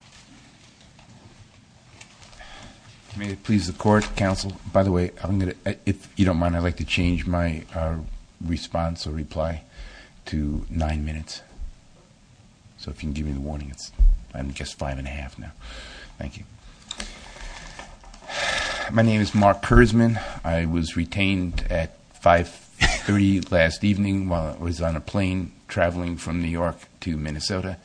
Mark Kurzman May it please the Court, Counsel. By the way, if you don't mind, I'd like to change my response or reply to nine minutes, so if you can give me the warning. I'm just five and a half now. Thank you. My name is Mark Kurzman. I was retained at 5.30 last evening while I was on a plane traveling from New York to Minnesota,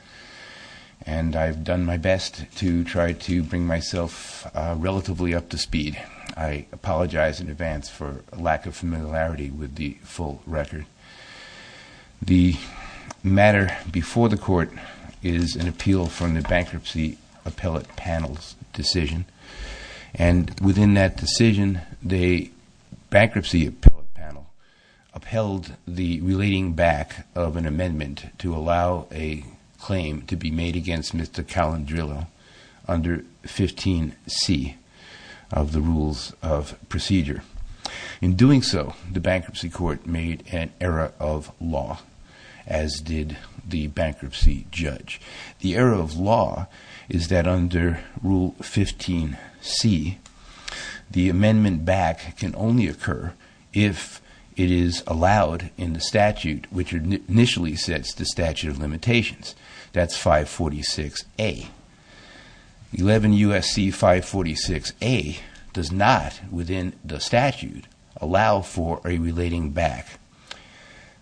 and I've done my best to try to bring myself relatively up to speed. I apologize in advance for a lack of familiarity with the full record. The matter before the Court is an appeal from the Bankruptcy Appellate Panel's decision, and within that decision, the Bankruptcy Appellate Panel upheld the relating back of an amendment to allow a claim to be made against Mr. Calandrillo under 15C of the Rules of Procedure. In doing so, the bankruptcy court made an error of law, as did the bankruptcy judge. The error of law is that under Rule 15C, the amendment back can only occur if it is allowed in the statute, which initially sets the statute of limitations. That's 546A. 11 U.S.C. 546A does not, within the statute, allow for a relating back.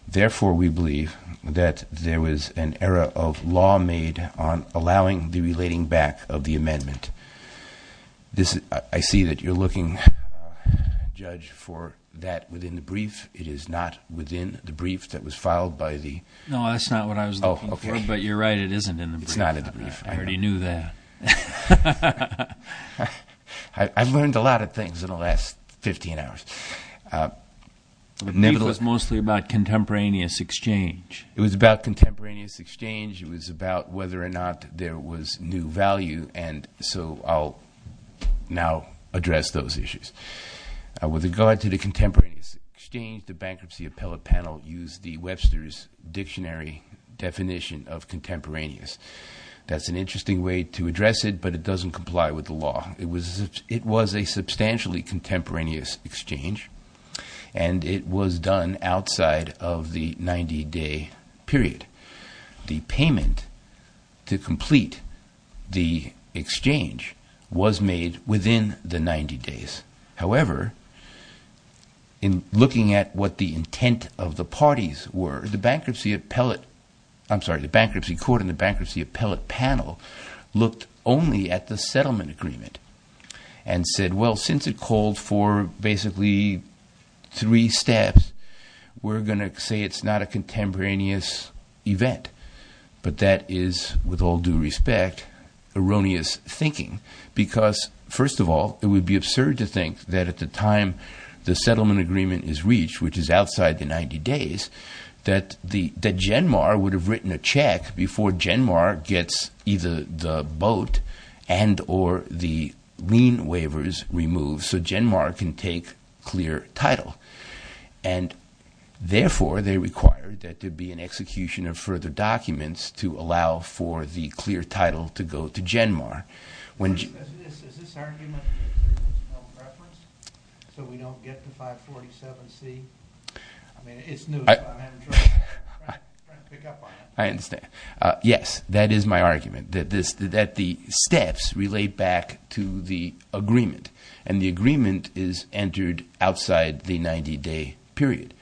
Therefore, we believe that there was an error of law made on allowing the relating back of the amendment. I see that you're looking, Judge, for that within the brief. It is not within the brief that was filed by the- You're right. It isn't in the brief. It's not in the brief. I already knew that. I've learned a lot of things in the last 15 hours. The brief was mostly about contemporaneous exchange. It was about contemporaneous exchange. It was about whether or not there was new value, and so I'll now address those issues. With regard to the contemporaneous exchange, the bankruptcy appellate panel used the Webster's Dictionary definition of contemporaneous. That's an interesting way to address it, but it doesn't comply with the law. It was a substantially contemporaneous exchange, and it was done outside of the 90-day period. The payment to complete the exchange was made within the 90 days. However, in looking at what the intent of the parties were, the bankruptcy court and the bankruptcy appellate panel looked only at the settlement agreement and said, well, since it called for basically three steps, we're going to say it's not a contemporaneous event. But that is, with all due respect, erroneous thinking because, first of all, it would be absurd to think that at the time the settlement agreement is reached, which is outside the 90 days, that Genmar would have written a check before Genmar gets either the boat and or the lien waivers removed so Genmar can take clear title. And, therefore, they required that there be an execution of further documents to allow for the clear title to go to Genmar. Is this argument that there's no preference so we don't get to 547C? I mean, it's new, so I'm having trouble trying to pick up on it. I understand. Yes, that is my argument, that the steps relate back to the agreement and the agreement is entered outside the 90-day period.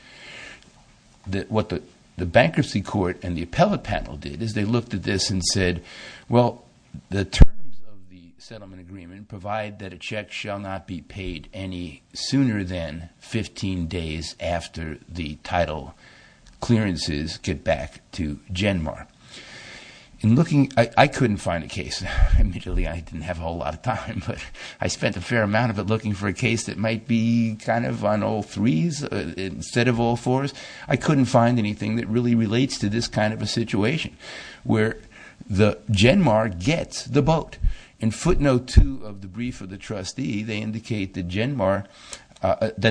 What the bankruptcy court and the appellate panel did is they looked at this and said, well, the terms of the settlement agreement provide that a check shall not be paid any sooner than 15 days after the title clearances get back to Genmar. In looking, I couldn't find a case. Admittedly, I didn't have a whole lot of time, but I spent a fair amount of it looking for a case that might be kind of on all threes instead of all fours. I couldn't find anything that really relates to this kind of a situation where the Genmar gets the boat. In footnote two of the brief of the trustee, they indicate that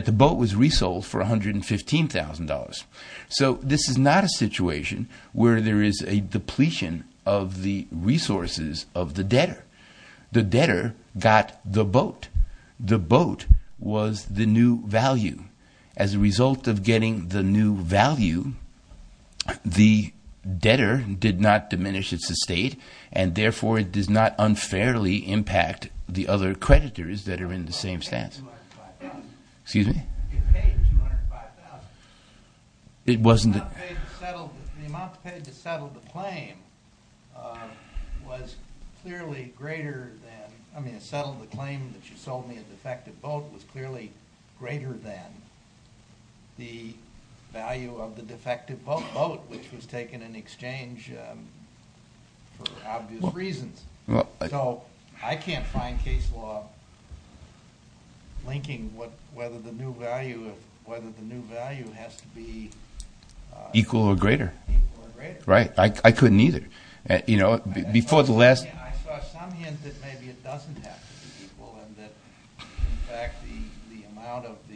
the boat was resold for $115,000. So this is not a situation where there is a depletion of the resources of the debtor. The debtor got the boat. The boat was the new value. As a result of getting the new value, the debtor did not diminish its estate and, therefore, it does not unfairly impact the other creditors that are in the same stance. It paid $205,000. The amount paid to settle the claim was clearly greater than the value of the defective boat, which was taken in exchange for obvious reasons. I can't find case law linking whether the new value has to be equal or greater. I couldn't either. I saw some hint that maybe it doesn't have to be equal and that, in fact, the amount of the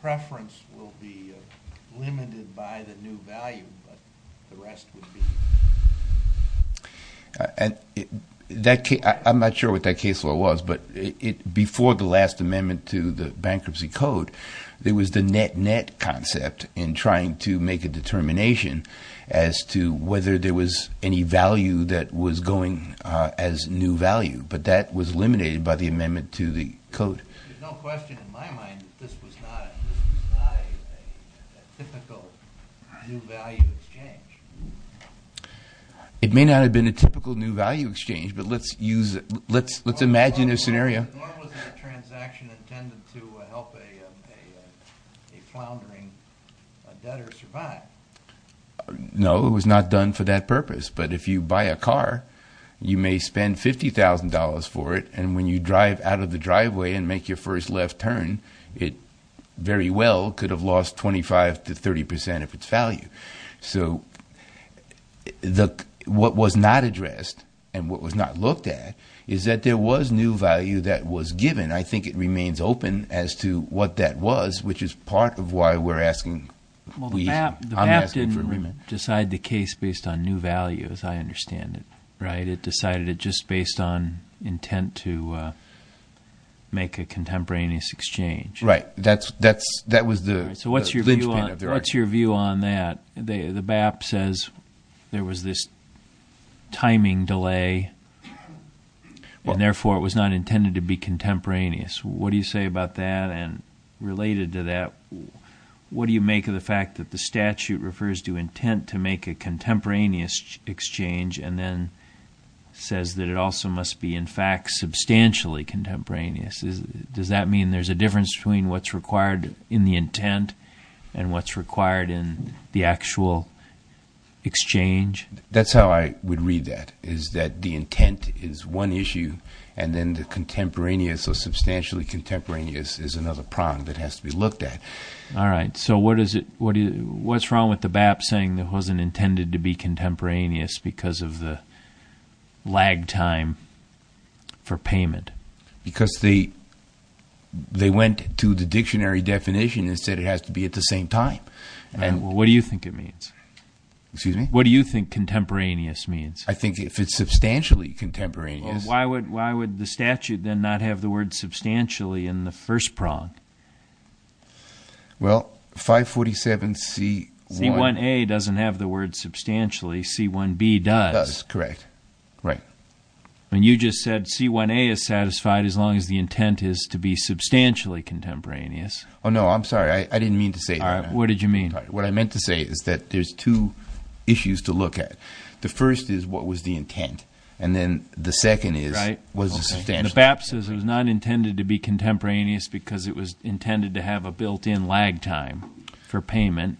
preference will be limited by the new value, but the rest would be equal. There's no question in my mind that this was not a typical new value exchange. Nor was the transaction intended to help a floundering debtor survive. No, it was not done for that purpose, but if you buy a car, you may spend $50,000 for it, and when you drive out of the driveway and make your first left turn, it very well could have lost 25 to 30 percent of its value. So what was not addressed and what was not looked at is that there was new value that was given. I think it remains open as to what that was, which is part of why we're asking. Well, the BAP didn't decide the case based on new value, as I understand it, right? It decided it just based on intent to make a contemporaneous exchange. Right. That was the linchpin of the argument. So what's your view on that? The BAP says there was this timing delay, and therefore it was not intended to be contemporaneous. What do you say about that? And related to that, what do you make of the fact that the statute refers to intent to make a contemporaneous exchange and then says that it also must be, in fact, substantially contemporaneous? Does that mean there's a difference between what's required in the intent and what's required in the actual exchange? That's how I would read that, is that the intent is one issue and then the contemporaneous or substantially contemporaneous is another prong that has to be looked at. All right. So what's wrong with the BAP saying it wasn't intended to be contemporaneous because of the lag time for payment? Because they went to the dictionary definition and said it has to be at the same time. What do you think it means? Excuse me? What do you think contemporaneous means? I think if it's substantially contemporaneous— Well, why would the statute then not have the word substantially in the first prong? Well, 547C1— C1A doesn't have the word substantially. C1B does. Correct. Right. And you just said C1A is satisfied as long as the intent is to be substantially contemporaneous. Oh, no. I'm sorry. I didn't mean to say that. What did you mean? What I meant to say is that there's two issues to look at. The first is what was the intent, and then the second is— Right. The BAP says it was not intended to be contemporaneous because it was intended to have a built-in lag time for payment.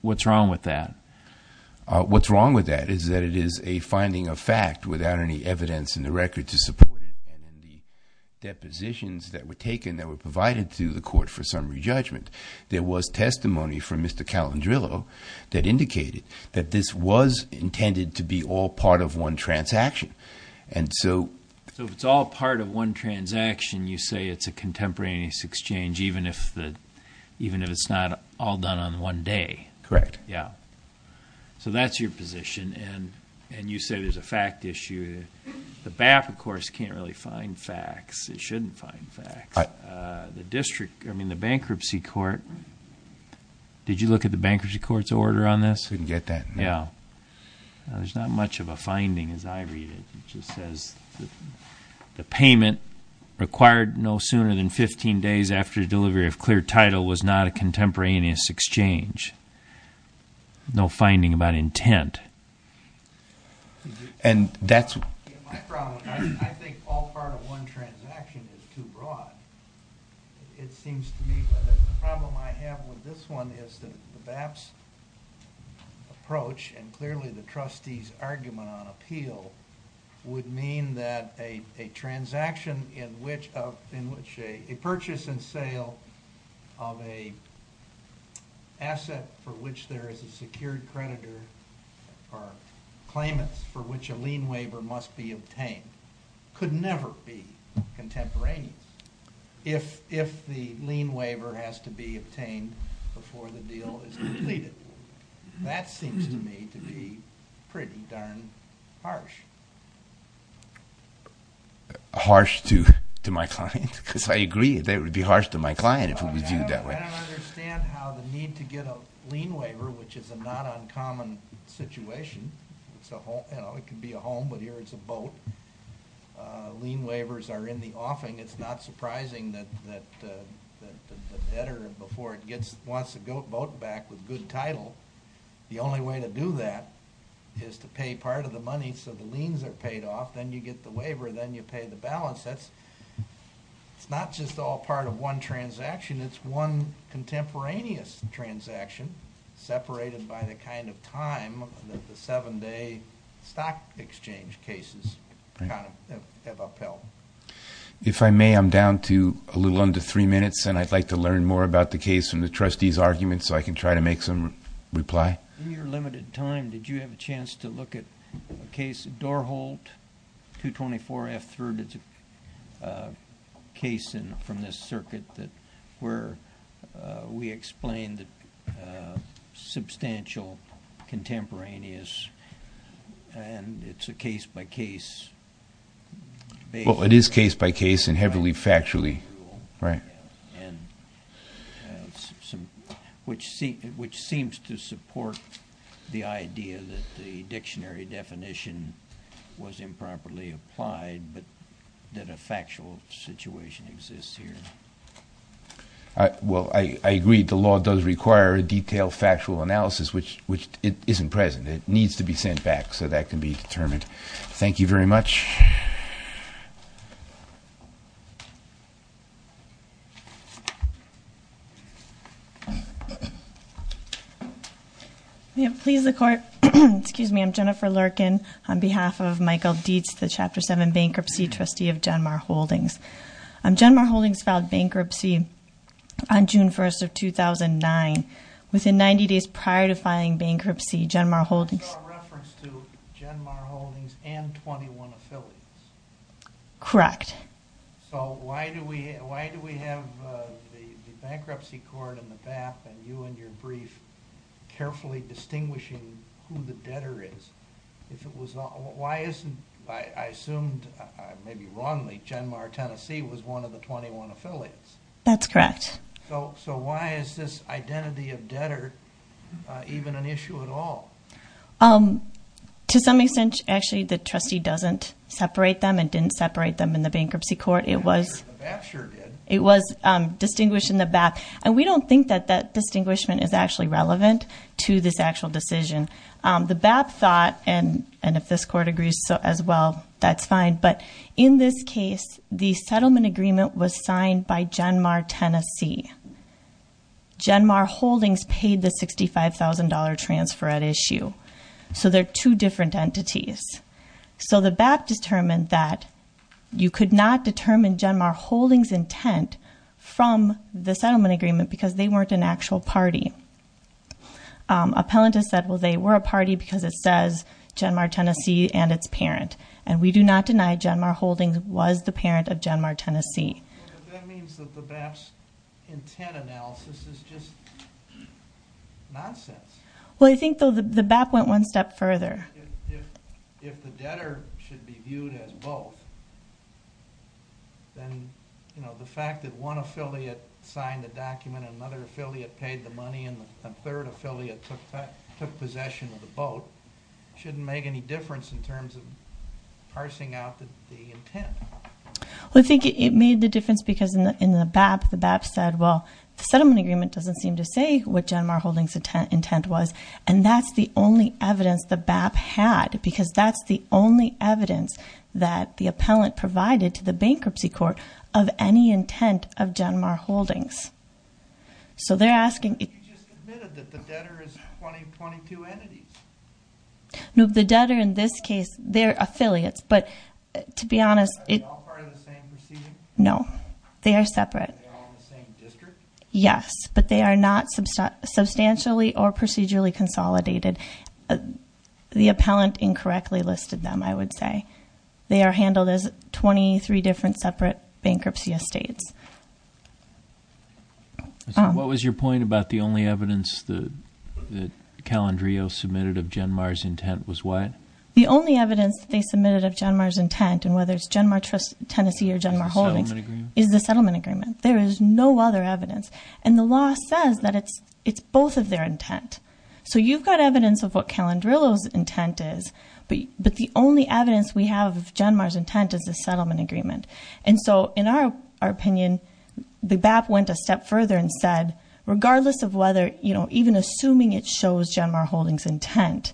What's wrong with that? What's wrong with that is that it is a finding of fact without any evidence in the record to support it. And the depositions that were taken that were provided to the court for summary judgment, there was testimony from Mr. Calendrillo that indicated that this was intended to be all part of one transaction. And so— So if it's all part of one transaction, you say it's a contemporaneous exchange even if it's not all done on one day. Correct. Yeah. So that's your position, and you say there's a fact issue. The BAP, of course, can't really find facts. It shouldn't find facts. The district, I mean the bankruptcy court, did you look at the bankruptcy court's order on this? I didn't get that. Yeah. There's not much of a finding as I read it. It just says the payment required no sooner than 15 days after delivery of clear title was not a contemporaneous exchange. No finding about intent. And that's— My problem, I think all part of one transaction is too broad. It seems to me that the problem I have with this one is that the BAP's approach and clearly the trustee's argument on appeal would mean that a transaction in which a purchase and sale of an asset for which there is a secured creditor or claimants for which a lien waiver must be obtained could never be contemporaneous if the lien waiver has to be obtained before the deal is completed. That seems to me to be pretty darn harsh. Harsh to my client? Because I agree that it would be harsh to my client if it was viewed that way. I don't understand how the need to get a lien waiver, which is a not uncommon situation. You know, it could be a home, but here it's a boat. Lien waivers are in the offing. It's not surprising that the debtor, before it gets—wants the boat back with good title, the only way to do that is to pay part of the money so the liens are paid off. Then you get the waiver. Then you pay the balance. It's not just all part of one transaction. It's one contemporaneous transaction separated by the kind of time that the seven-day stock exchange cases have upheld. If I may, I'm down to a little under three minutes, and I'd like to learn more about the case from the trustee's argument so I can try to make some reply. In your limited time, did you have a chance to look at a case, Dorholt 224 F. Thurden's case from this circuit where we explained substantial contemporaneous, and it's a case-by-case— Well, it is case-by-case and heavily factually. Right. Which seems to support the idea that the dictionary definition was improperly applied, but that a factual situation exists here. Well, I agree. The law does require a detailed factual analysis, which isn't present. It needs to be sent back so that can be determined. Thank you very much. Thank you. May it please the Court. Excuse me. I'm Jennifer Lurken on behalf of Michael Dietz, the Chapter 7 Bankruptcy Trustee of Genmar Holdings. Genmar Holdings filed bankruptcy on June 1st of 2009. Within 90 days prior to filing bankruptcy, Genmar Holdings— So a reference to Genmar Holdings and 21 Affiliates. Correct. So why do we have the bankruptcy court and the BAP and you in your brief carefully distinguishing who the debtor is? If it was—why isn't—I assumed, maybe wrongly, Genmar, Tennessee was one of the 21 affiliates. That's correct. So why is this identity of debtor even an issue at all? To some extent, actually, the trustee doesn't separate them and didn't separate them in the bankruptcy court. It was— The BAP sure did. It was distinguished in the BAP. And we don't think that that distinguishment is actually relevant to this actual decision. The BAP thought—and if this Court agrees as well, that's fine— but in this case, the settlement agreement was signed by Genmar, Tennessee. Genmar Holdings paid the $65,000 transfer at issue. So they're two different entities. So the BAP determined that you could not determine Genmar Holdings' intent from the settlement agreement because they weren't an actual party. Appellant has said, well, they were a party because it says Genmar, Tennessee and its parent. And we do not deny Genmar Holdings was the parent of Genmar, Tennessee. But that means that the BAP's intent analysis is just nonsense. Well, I think the BAP went one step further. If the debtor should be viewed as both, then the fact that one affiliate signed the document and another affiliate paid the money and a third affiliate took possession of the boat shouldn't make any difference in terms of parsing out the intent. Well, I think it made the difference because in the BAP, the BAP said, well, the settlement agreement doesn't seem to say what Genmar Holdings' intent was. And that's the only evidence the BAP had because that's the only evidence that the appellant provided to the bankruptcy court of any intent of Genmar Holdings. So they're asking— You just admitted that the debtor is one of your 22 entities. No, the debtor in this case, they're affiliates. But to be honest— Are they all part of the same proceeding? No, they are separate. Are they all in the same district? Yes, but they are not substantially or procedurally consolidated. The appellant incorrectly listed them, I would say. They are handled as 23 different separate bankruptcy estates. So what was your point about the only evidence that Calendrio submitted of Genmar's intent was what? The only evidence they submitted of Genmar's intent, and whether it's Genmar Trust Tennessee or Genmar Holdings, is the settlement agreement. There is no other evidence. And the law says that it's both of their intent. So you've got evidence of what Calendrillo's intent is, but the only evidence we have of Genmar's intent is the settlement agreement. And so in our opinion, the BAP went a step further and said, regardless of whether—even assuming it shows Genmar Holdings' intent,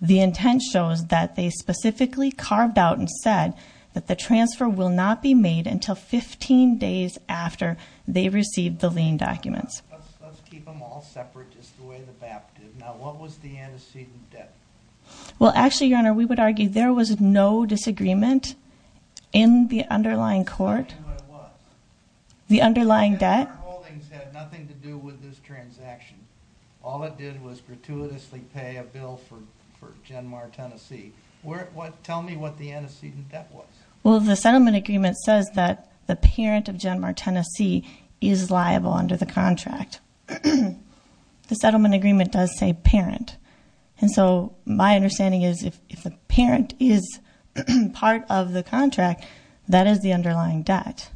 the intent shows that they specifically carved out and said that the transfer will not be made until 15 days after they receive the lien documents. Let's keep them all separate just the way the BAP did. Now, what was the antecedent debt? Well, actually, Your Honor, we would argue there was no disagreement in the underlying court. In what? The underlying debt. Genmar Holdings had nothing to do with this transaction. All it did was gratuitously pay a bill for Genmar Tennessee. Tell me what the antecedent debt was. Well, the settlement agreement says that the parent of Genmar Tennessee is liable under the contract. The settlement agreement does say parent. And so my understanding is if the parent is part of the contract, that is the underlying debt.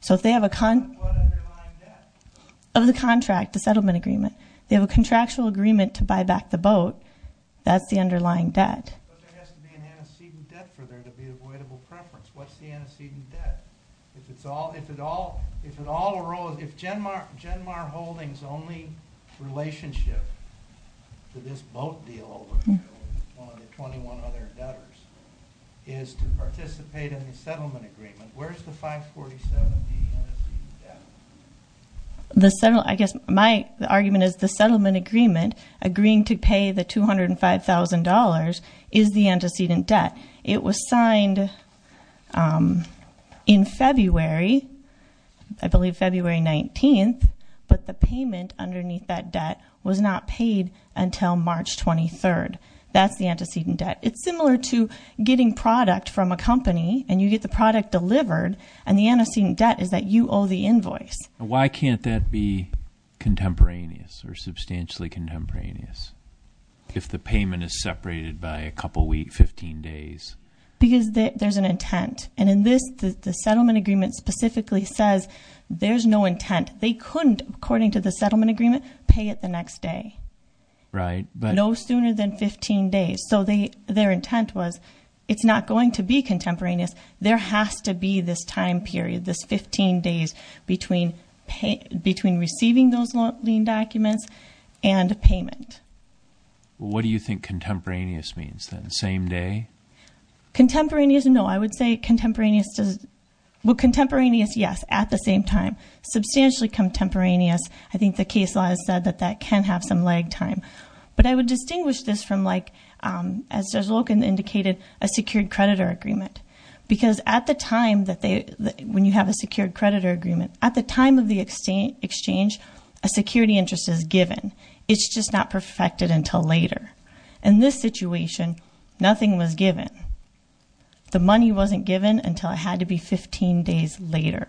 So if they have a— What underlying debt? Of the contract, the settlement agreement. They have a contractual agreement to buy back the boat. That's the underlying debt. But there has to be an antecedent debt for there to be avoidable preference. What's the antecedent debt? If it's all—if it all arose—if Genmar Holdings' only relationship to this boat deal over one of the 21 other debtors is to participate in the settlement agreement, where is the 547B antecedent debt? The settlement—I guess my argument is the settlement agreement agreeing to pay the $205,000 is the antecedent debt. It was signed in February. I believe February 19th. But the payment underneath that debt was not paid until March 23rd. That's the antecedent debt. It's similar to getting product from a company, and you get the product delivered, and the antecedent debt is that you owe the invoice. Why can't that be contemporaneous or substantially contemporaneous if the payment is separated by a couple weeks, 15 days? Because there's an intent. And in this, the settlement agreement specifically says there's no intent. They couldn't, according to the settlement agreement, pay it the next day. Right, but— No sooner than 15 days. So their intent was it's not going to be contemporaneous. There has to be this time period, this 15 days between receiving those lien documents and payment. What do you think contemporaneous means then, same day? Contemporaneous, no. I would say contemporaneous does—well, contemporaneous, yes, at the same time. Substantially contemporaneous, I think the case law has said that that can have some lag time. But I would distinguish this from, like, as Logan indicated, a secured creditor agreement. Because at the time that they—when you have a secured creditor agreement, at the time of the exchange, a security interest is given. It's just not perfected until later. In this situation, nothing was given. The money wasn't given until it had to be 15 days later.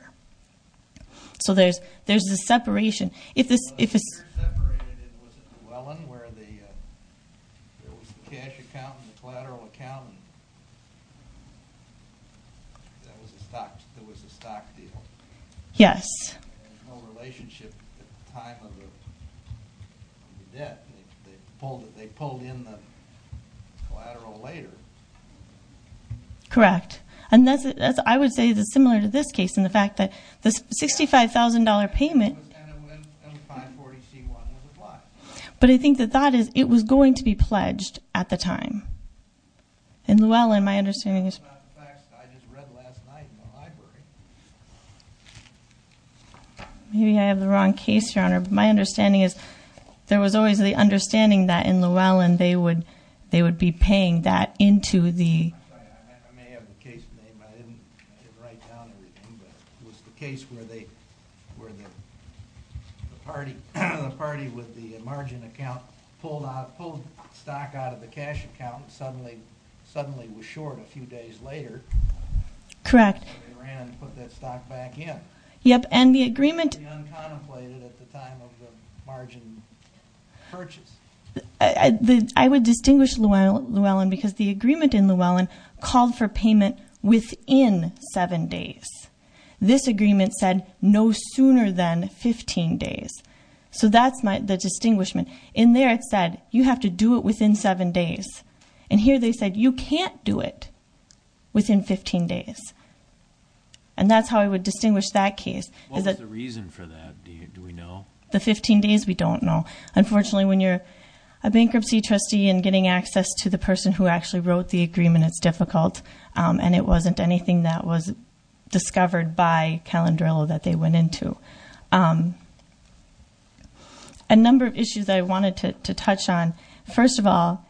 So there's this separation. It wasn't separated. It was at Llewellyn where there was the cash account and the collateral account, and there was a stock deal. Yes. There was no relationship at the time of the debt. They pulled in the collateral later. Correct. And I would say it's similar to this case in the fact that the $65,000 payment— And the 540C1 was applied. But I think the thought is it was going to be pledged at the time. In Llewellyn, my understanding is— It's not the facts that I just read last night in the library. Maybe I have the wrong case, Your Honor. My understanding is there was always the understanding that in Llewellyn they would be paying that into the— I'm sorry. I may have the case name. I didn't write down everything. It was the case where the party with the margin account pulled stock out of the cash account and suddenly was short a few days later. Correct. So they ran and put that stock back in. Yep. And the agreement— Uncontemplated at the time of the margin purchase. I would distinguish Llewellyn because the agreement in Llewellyn called for payment within 7 days. This agreement said no sooner than 15 days. So that's the distinguishment. In there it said you have to do it within 7 days. And here they said you can't do it within 15 days. And that's how I would distinguish that case. What was the reason for that? Do we know? The 15 days we don't know. Unfortunately, when you're a bankruptcy trustee and getting access to the person who actually wrote the agreement, it's difficult, and it wasn't anything that was discovered by Calendrillo that they went into. A number of issues I wanted to touch on. First of all,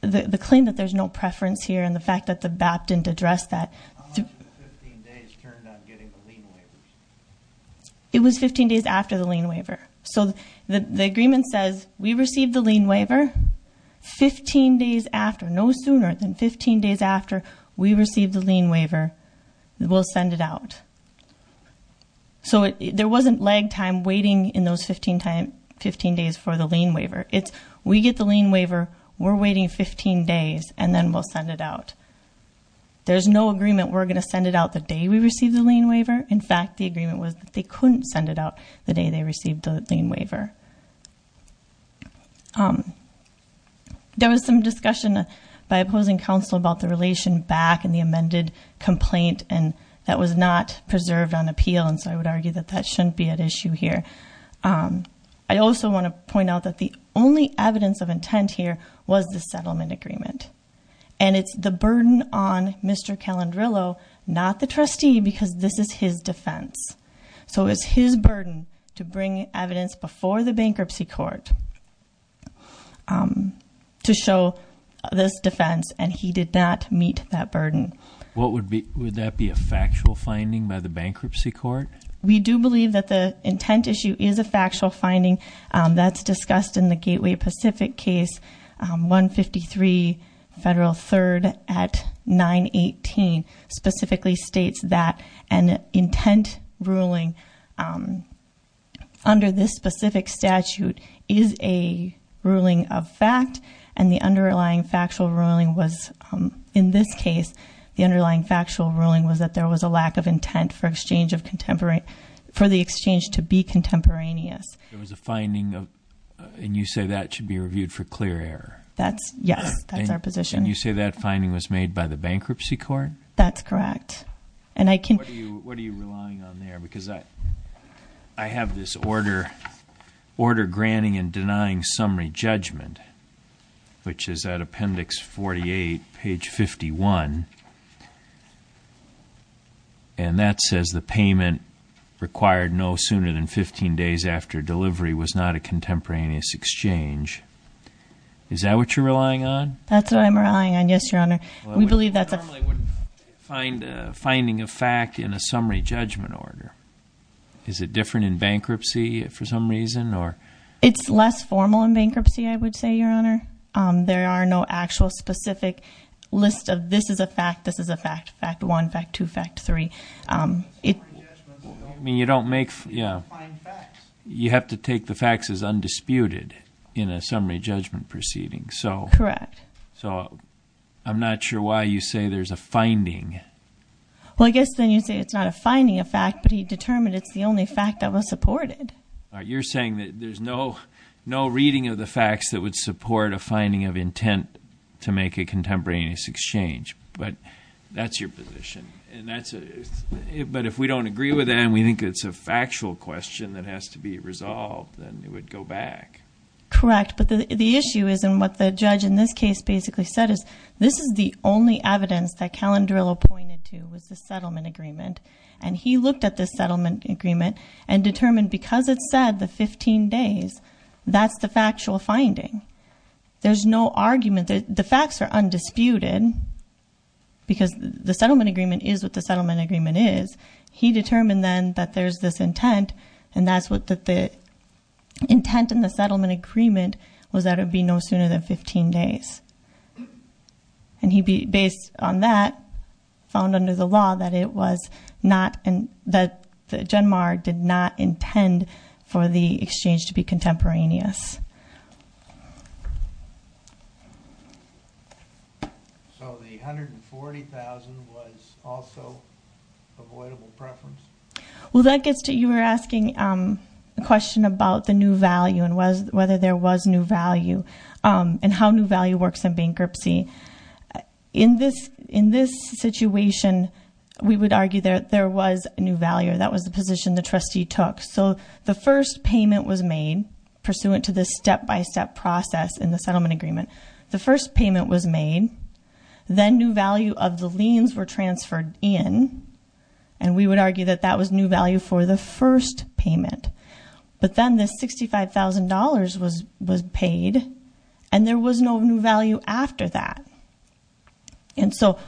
the claim that there's no preference here and the fact that the BAP didn't address that. How much of the 15 days turned up getting the lien waiver? It was 15 days after the lien waiver. So the agreement says we received the lien waiver 15 days after, no sooner than 15 days after we received the lien waiver. We'll send it out. So there wasn't lag time waiting in those 15 days for the lien waiver. It's we get the lien waiver, we're waiting 15 days, and then we'll send it out. There's no agreement we're going to send it out the day we receive the lien waiver. In fact, the agreement was that they couldn't send it out the day they received the lien waiver. There was some discussion by opposing counsel about the relation back in the amended complaint, and that was not preserved on appeal, and so I would argue that that shouldn't be at issue here. I also want to point out that the only evidence of intent here was the settlement agreement, and it's the burden on Mr. Calendrillo, not the trustee, because this is his defense. So it's his burden to bring evidence before the bankruptcy court to show this defense, and he did not meet that burden. Would that be a factual finding by the bankruptcy court? We do believe that the intent issue is a factual finding. That's discussed in the Gateway Pacific case, 153 Federal 3rd at 918, specifically states that an intent ruling under this specific statute is a ruling of fact, and the underlying factual ruling was, in this case, the underlying factual ruling was that there was a lack of intent for the exchange to be contemporaneous. There was a finding, and you say that should be reviewed for clear error? Yes, that's our position. And you say that finding was made by the bankruptcy court? That's correct. What are you relying on there? Because I have this order granting and denying summary judgment, which is at appendix 48, page 51, and that says the payment required no sooner than 15 days after delivery was not a contemporaneous exchange. Is that what you're relying on? That's what I'm relying on, yes, Your Honor. We believe that's a finding of fact in a summary judgment order. Is it different in bankruptcy for some reason? It's less formal in bankruptcy, I would say, Your Honor. There are no actual specific list of this is a fact, this is a fact, fact one, fact two, fact three. You have to take the facts as undisputed in a summary judgment proceeding. Correct. So I'm not sure why you say there's a finding. Well, I guess then you say it's not a finding of fact, but he determined it's the only fact that was supported. You're saying that there's no reading of the facts that would support a finding of intent to make a contemporaneous exchange. But that's your position. But if we don't agree with that and we think it's a factual question that has to be resolved, then it would go back. Correct. But the issue is in what the judge in this case basically said is this is the only evidence that Calendrillo pointed to was the settlement agreement. And he looked at this settlement agreement and determined because it said the 15 days, that's the factual finding. There's no argument. The facts are undisputed because the settlement agreement is what the settlement agreement is. He determined then that there's this intent and that's what the intent in the settlement agreement was that it would be no sooner than 15 days. And he based on that found under the law that it was not, that Genmar did not intend for the exchange to be contemporaneous. So the $140,000 was also avoidable preference? Well, that gets to, you were asking a question about the new value and whether there was new value and how new value works in bankruptcy. In this situation, we would argue that there was new value. That was the position the trustee took. So the first payment was made pursuant to this step-by-step process in the settlement agreement. The first payment was made. Then new value of the liens were transferred in. And we would argue that that was new value for the first payment. But then the $65,000 was paid and there was no new value after that. And so-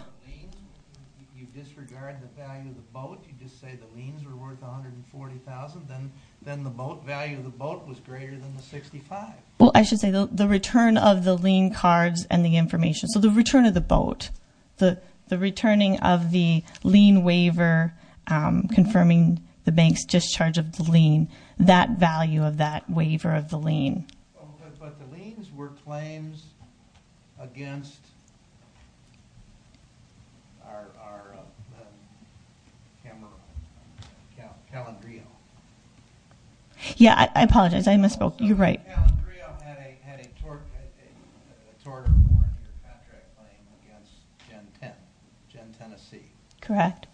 You disregard the value of the boat? You just say the liens were worth $140,000, then the boat, value of the boat was greater than the 65? Well, I should say the return of the lien cards and the information, so the return of the boat. The returning of the lien waiver confirming the bank's discharge of the lien. That value of that waiver of the lien. But the liens were claims against Calendrio. Yeah, I apologize. I misspoke. You're right. Calendrio had a tort or contract claim against Gen 10, Gen Tennessee. Correct.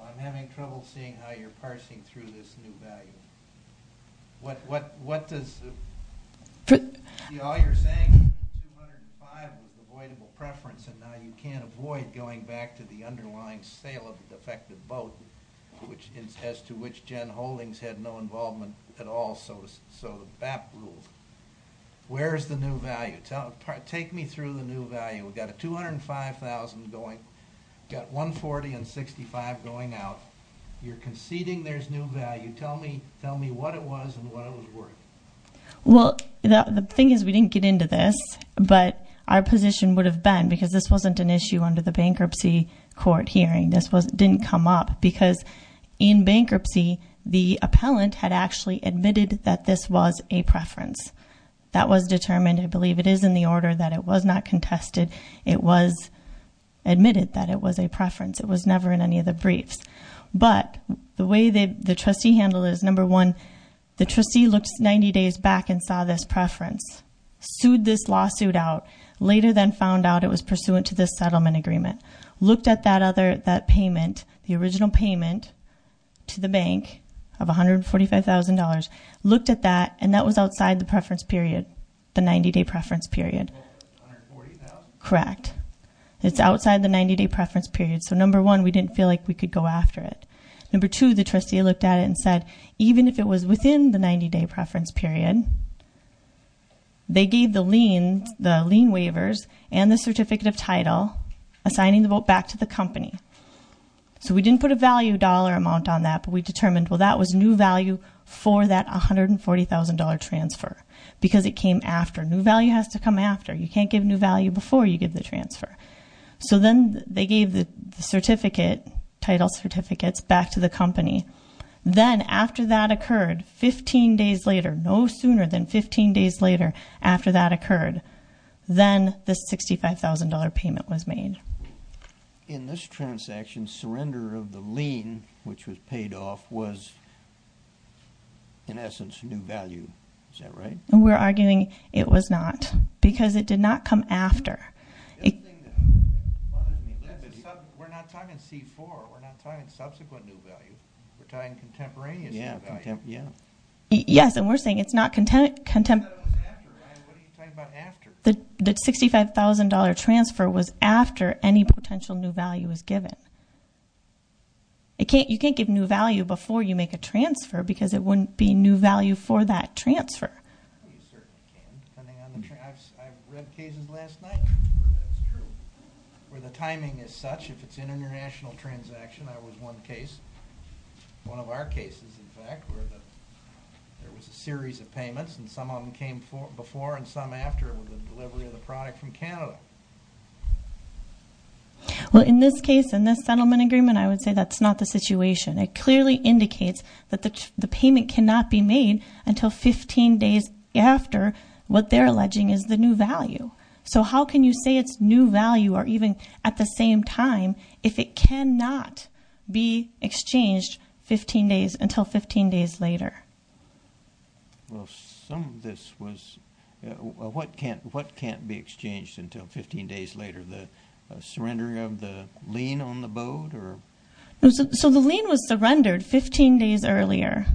I'm having trouble seeing how you're parsing through this new value. What does- All you're saying is 205 was avoidable preference, and now you can't avoid going back to the underlying sale of the defective boat, as to which Gen Holdings had no involvement at all, so the BAP ruled. Where is the new value? Take me through the new value. We've got a $205,000 going. We've got $140,000 and $65,000 going out. You're conceding there's new value. Tell me what it was and what it was worth. Well, the thing is we didn't get into this, but our position would have been, because this wasn't an issue under the bankruptcy court hearing. This didn't come up, because in bankruptcy, the appellant had actually admitted that this was a preference. That was determined. I believe it is in the order that it was not contested. It was admitted that it was a preference. It was never in any of the briefs. But the way the trustee handled it is, number one, the trustee looked 90 days back and saw this preference, sued this lawsuit out, later then found out it was pursuant to this settlement agreement, looked at that payment, the original payment to the bank of $145,000, looked at that, and that was outside the preference period, the 90-day preference period. $140,000? Correct. It's outside the 90-day preference period. So, number one, we didn't feel like we could go after it. Number two, the trustee looked at it and said, even if it was within the 90-day preference period, they gave the lien waivers and the certificate of title, assigning the vote back to the company. So we didn't put a value dollar amount on that, but we determined, well, that was new value for that $140,000 transfer because it came after. New value has to come after. You can't give new value before you give the transfer. So then they gave the certificate, title certificates, back to the company. Then, after that occurred, 15 days later, no sooner than 15 days later after that occurred, then the $65,000 payment was made. In this transaction, surrender of the lien, which was paid off, was, in essence, new value. Is that right? We're arguing it was not because it did not come after. We're not talking C-4. We're not talking subsequent new value. We're talking contemporaneous new value. Yes, and we're saying it's not contemporaneous. What are you talking about after? The $65,000 transfer was after any potential new value was given. You can't give new value before you make a transfer because it wouldn't be new value for that transfer. I read cases last night where that's true, where the timing is such if it's an international transaction. There was one case, one of our cases, in fact, where there was a series of payments and some of them came before and some after with the delivery of the product from Canada. Well, in this case, in this settlement agreement, I would say that's not the situation. It clearly indicates that the payment cannot be made until 15 days after what they're alleging is the new value. So how can you say it's new value or even at the same time if it cannot be exchanged 15 days until 15 days later? Well, some of this was what can't be exchanged until 15 days later, the surrendering of the lien on the boat? So the lien was surrendered 15 days earlier,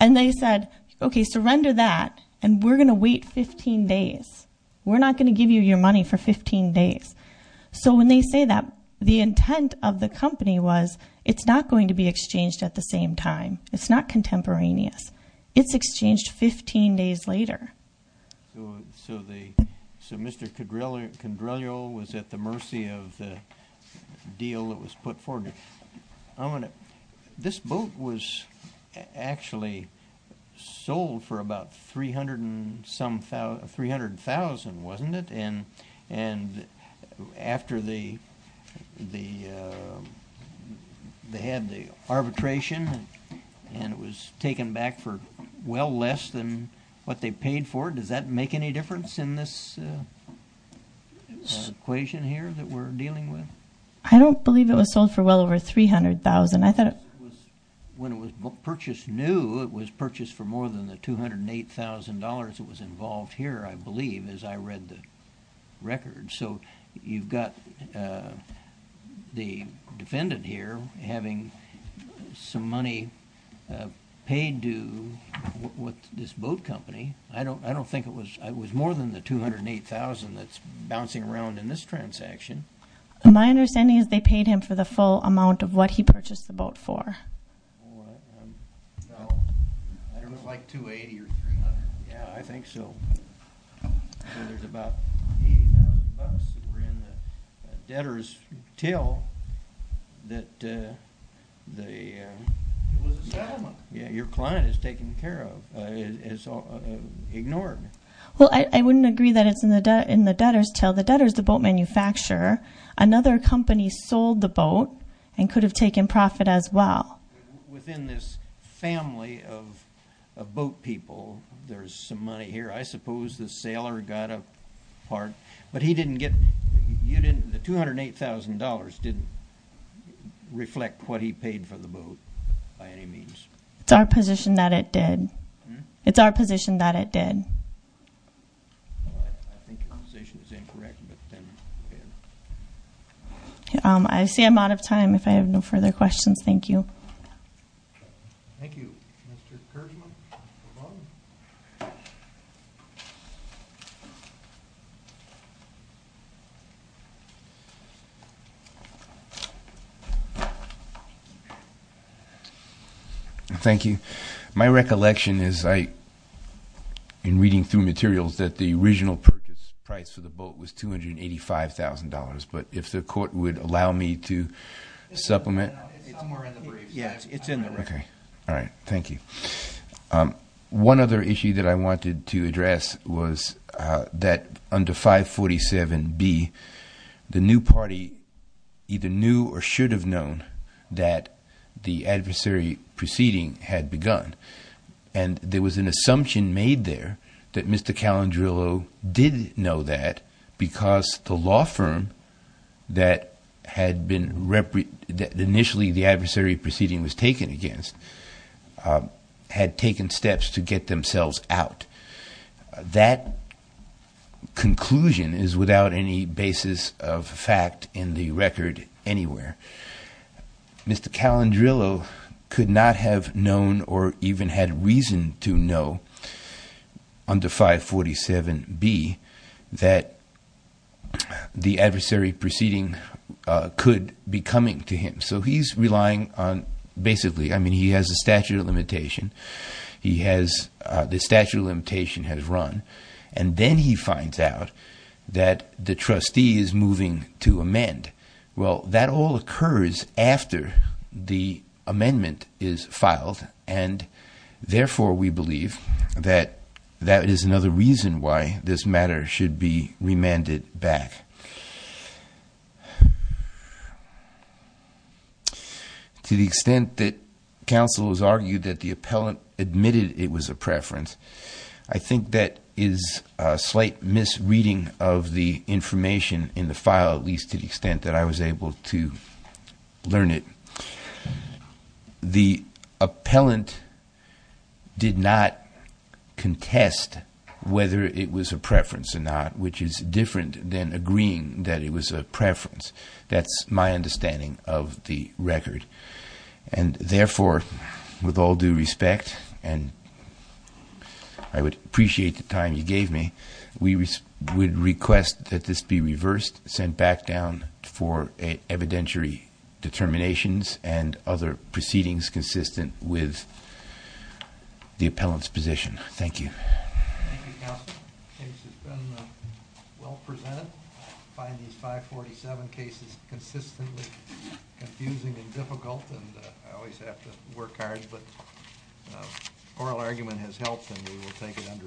and they said, okay, surrender that, and we're going to wait 15 days. We're not going to give you your money for 15 days. So when they say that, the intent of the company was it's not going to be exchanged at the same time. It's not contemporaneous. It's exchanged 15 days later. So Mr. Condrillo was at the mercy of the deal that was put forward. This boat was actually sold for about $300,000, wasn't it? And after they had the arbitration and it was taken back for well less than what they paid for, does that make any difference in this equation here that we're dealing with? I don't believe it was sold for well over $300,000. When it was purchased new, it was purchased for more than the $208,000 that was involved here, I believe, as I read the record. So you've got the defendant here having some money paid to this boat company. I don't think it was more than the $208,000 that's bouncing around in this transaction. My understanding is they paid him for the full amount of what he purchased the boat for. Well, I don't know. It was like $280,000 or $300,000. Yeah, I think so. So there's about $80,000 that were in the debtor's till that the— It was a settlement. Yeah, your client has taken care of. It's ignored. Well, I wouldn't agree that it's in the debtor's till. The debtor's the boat manufacturer. Another company sold the boat and could have taken profit as well. Within this family of boat people, there's some money here. I suppose the sailor got a part. But he didn't get—you didn't— The $208,000 didn't reflect what he paid for the boat by any means. It's our position that it did. It's our position that it did. I think your conversation is incorrect. I see I'm out of time. If I have no further questions, thank you. Thank you. Mr. Kershman? Thank you. My recollection is, in reading through materials, that the original purchase price for the boat was $285,000. But if the court would allow me to supplement. It's somewhere in the briefs. Yeah, it's in the records. All right. Thank you. One other issue that I wanted to address was that under 547B, the new party either knew or should have known that the adversary proceeding had begun. And there was an assumption made there that Mr. Calendrillo did know that because the law firm that had been— that initially the adversary proceeding was taken against had taken steps to get themselves out. That conclusion is without any basis of fact in the record anywhere. Mr. Calendrillo could not have known or even had reason to know under 547B that the adversary proceeding could be coming to him. So he's relying on basically—I mean, he has a statute of limitation. He has—the statute of limitation has run. And then he finds out that the trustee is moving to amend. Well, that all occurs after the amendment is filed. And therefore, we believe that that is another reason why this matter should be remanded back. To the extent that counsel has argued that the appellant admitted it was a preference, I think that is a slight misreading of the information in the file, at least to the extent that I was able to learn it. The appellant did not contest whether it was a preference or not, which is different than agreeing that it was a preference. That's my understanding of the record. And therefore, with all due respect, and I would appreciate the time you gave me, we would request that this be reversed, sent back down for evidentiary determinations and other proceedings consistent with the appellant's position. Thank you. Thank you, counsel. The case has been well presented. I find these 547 cases consistently confusing and difficult, and I always have to work hard, but oral argument has helped, and we will take it under advisement.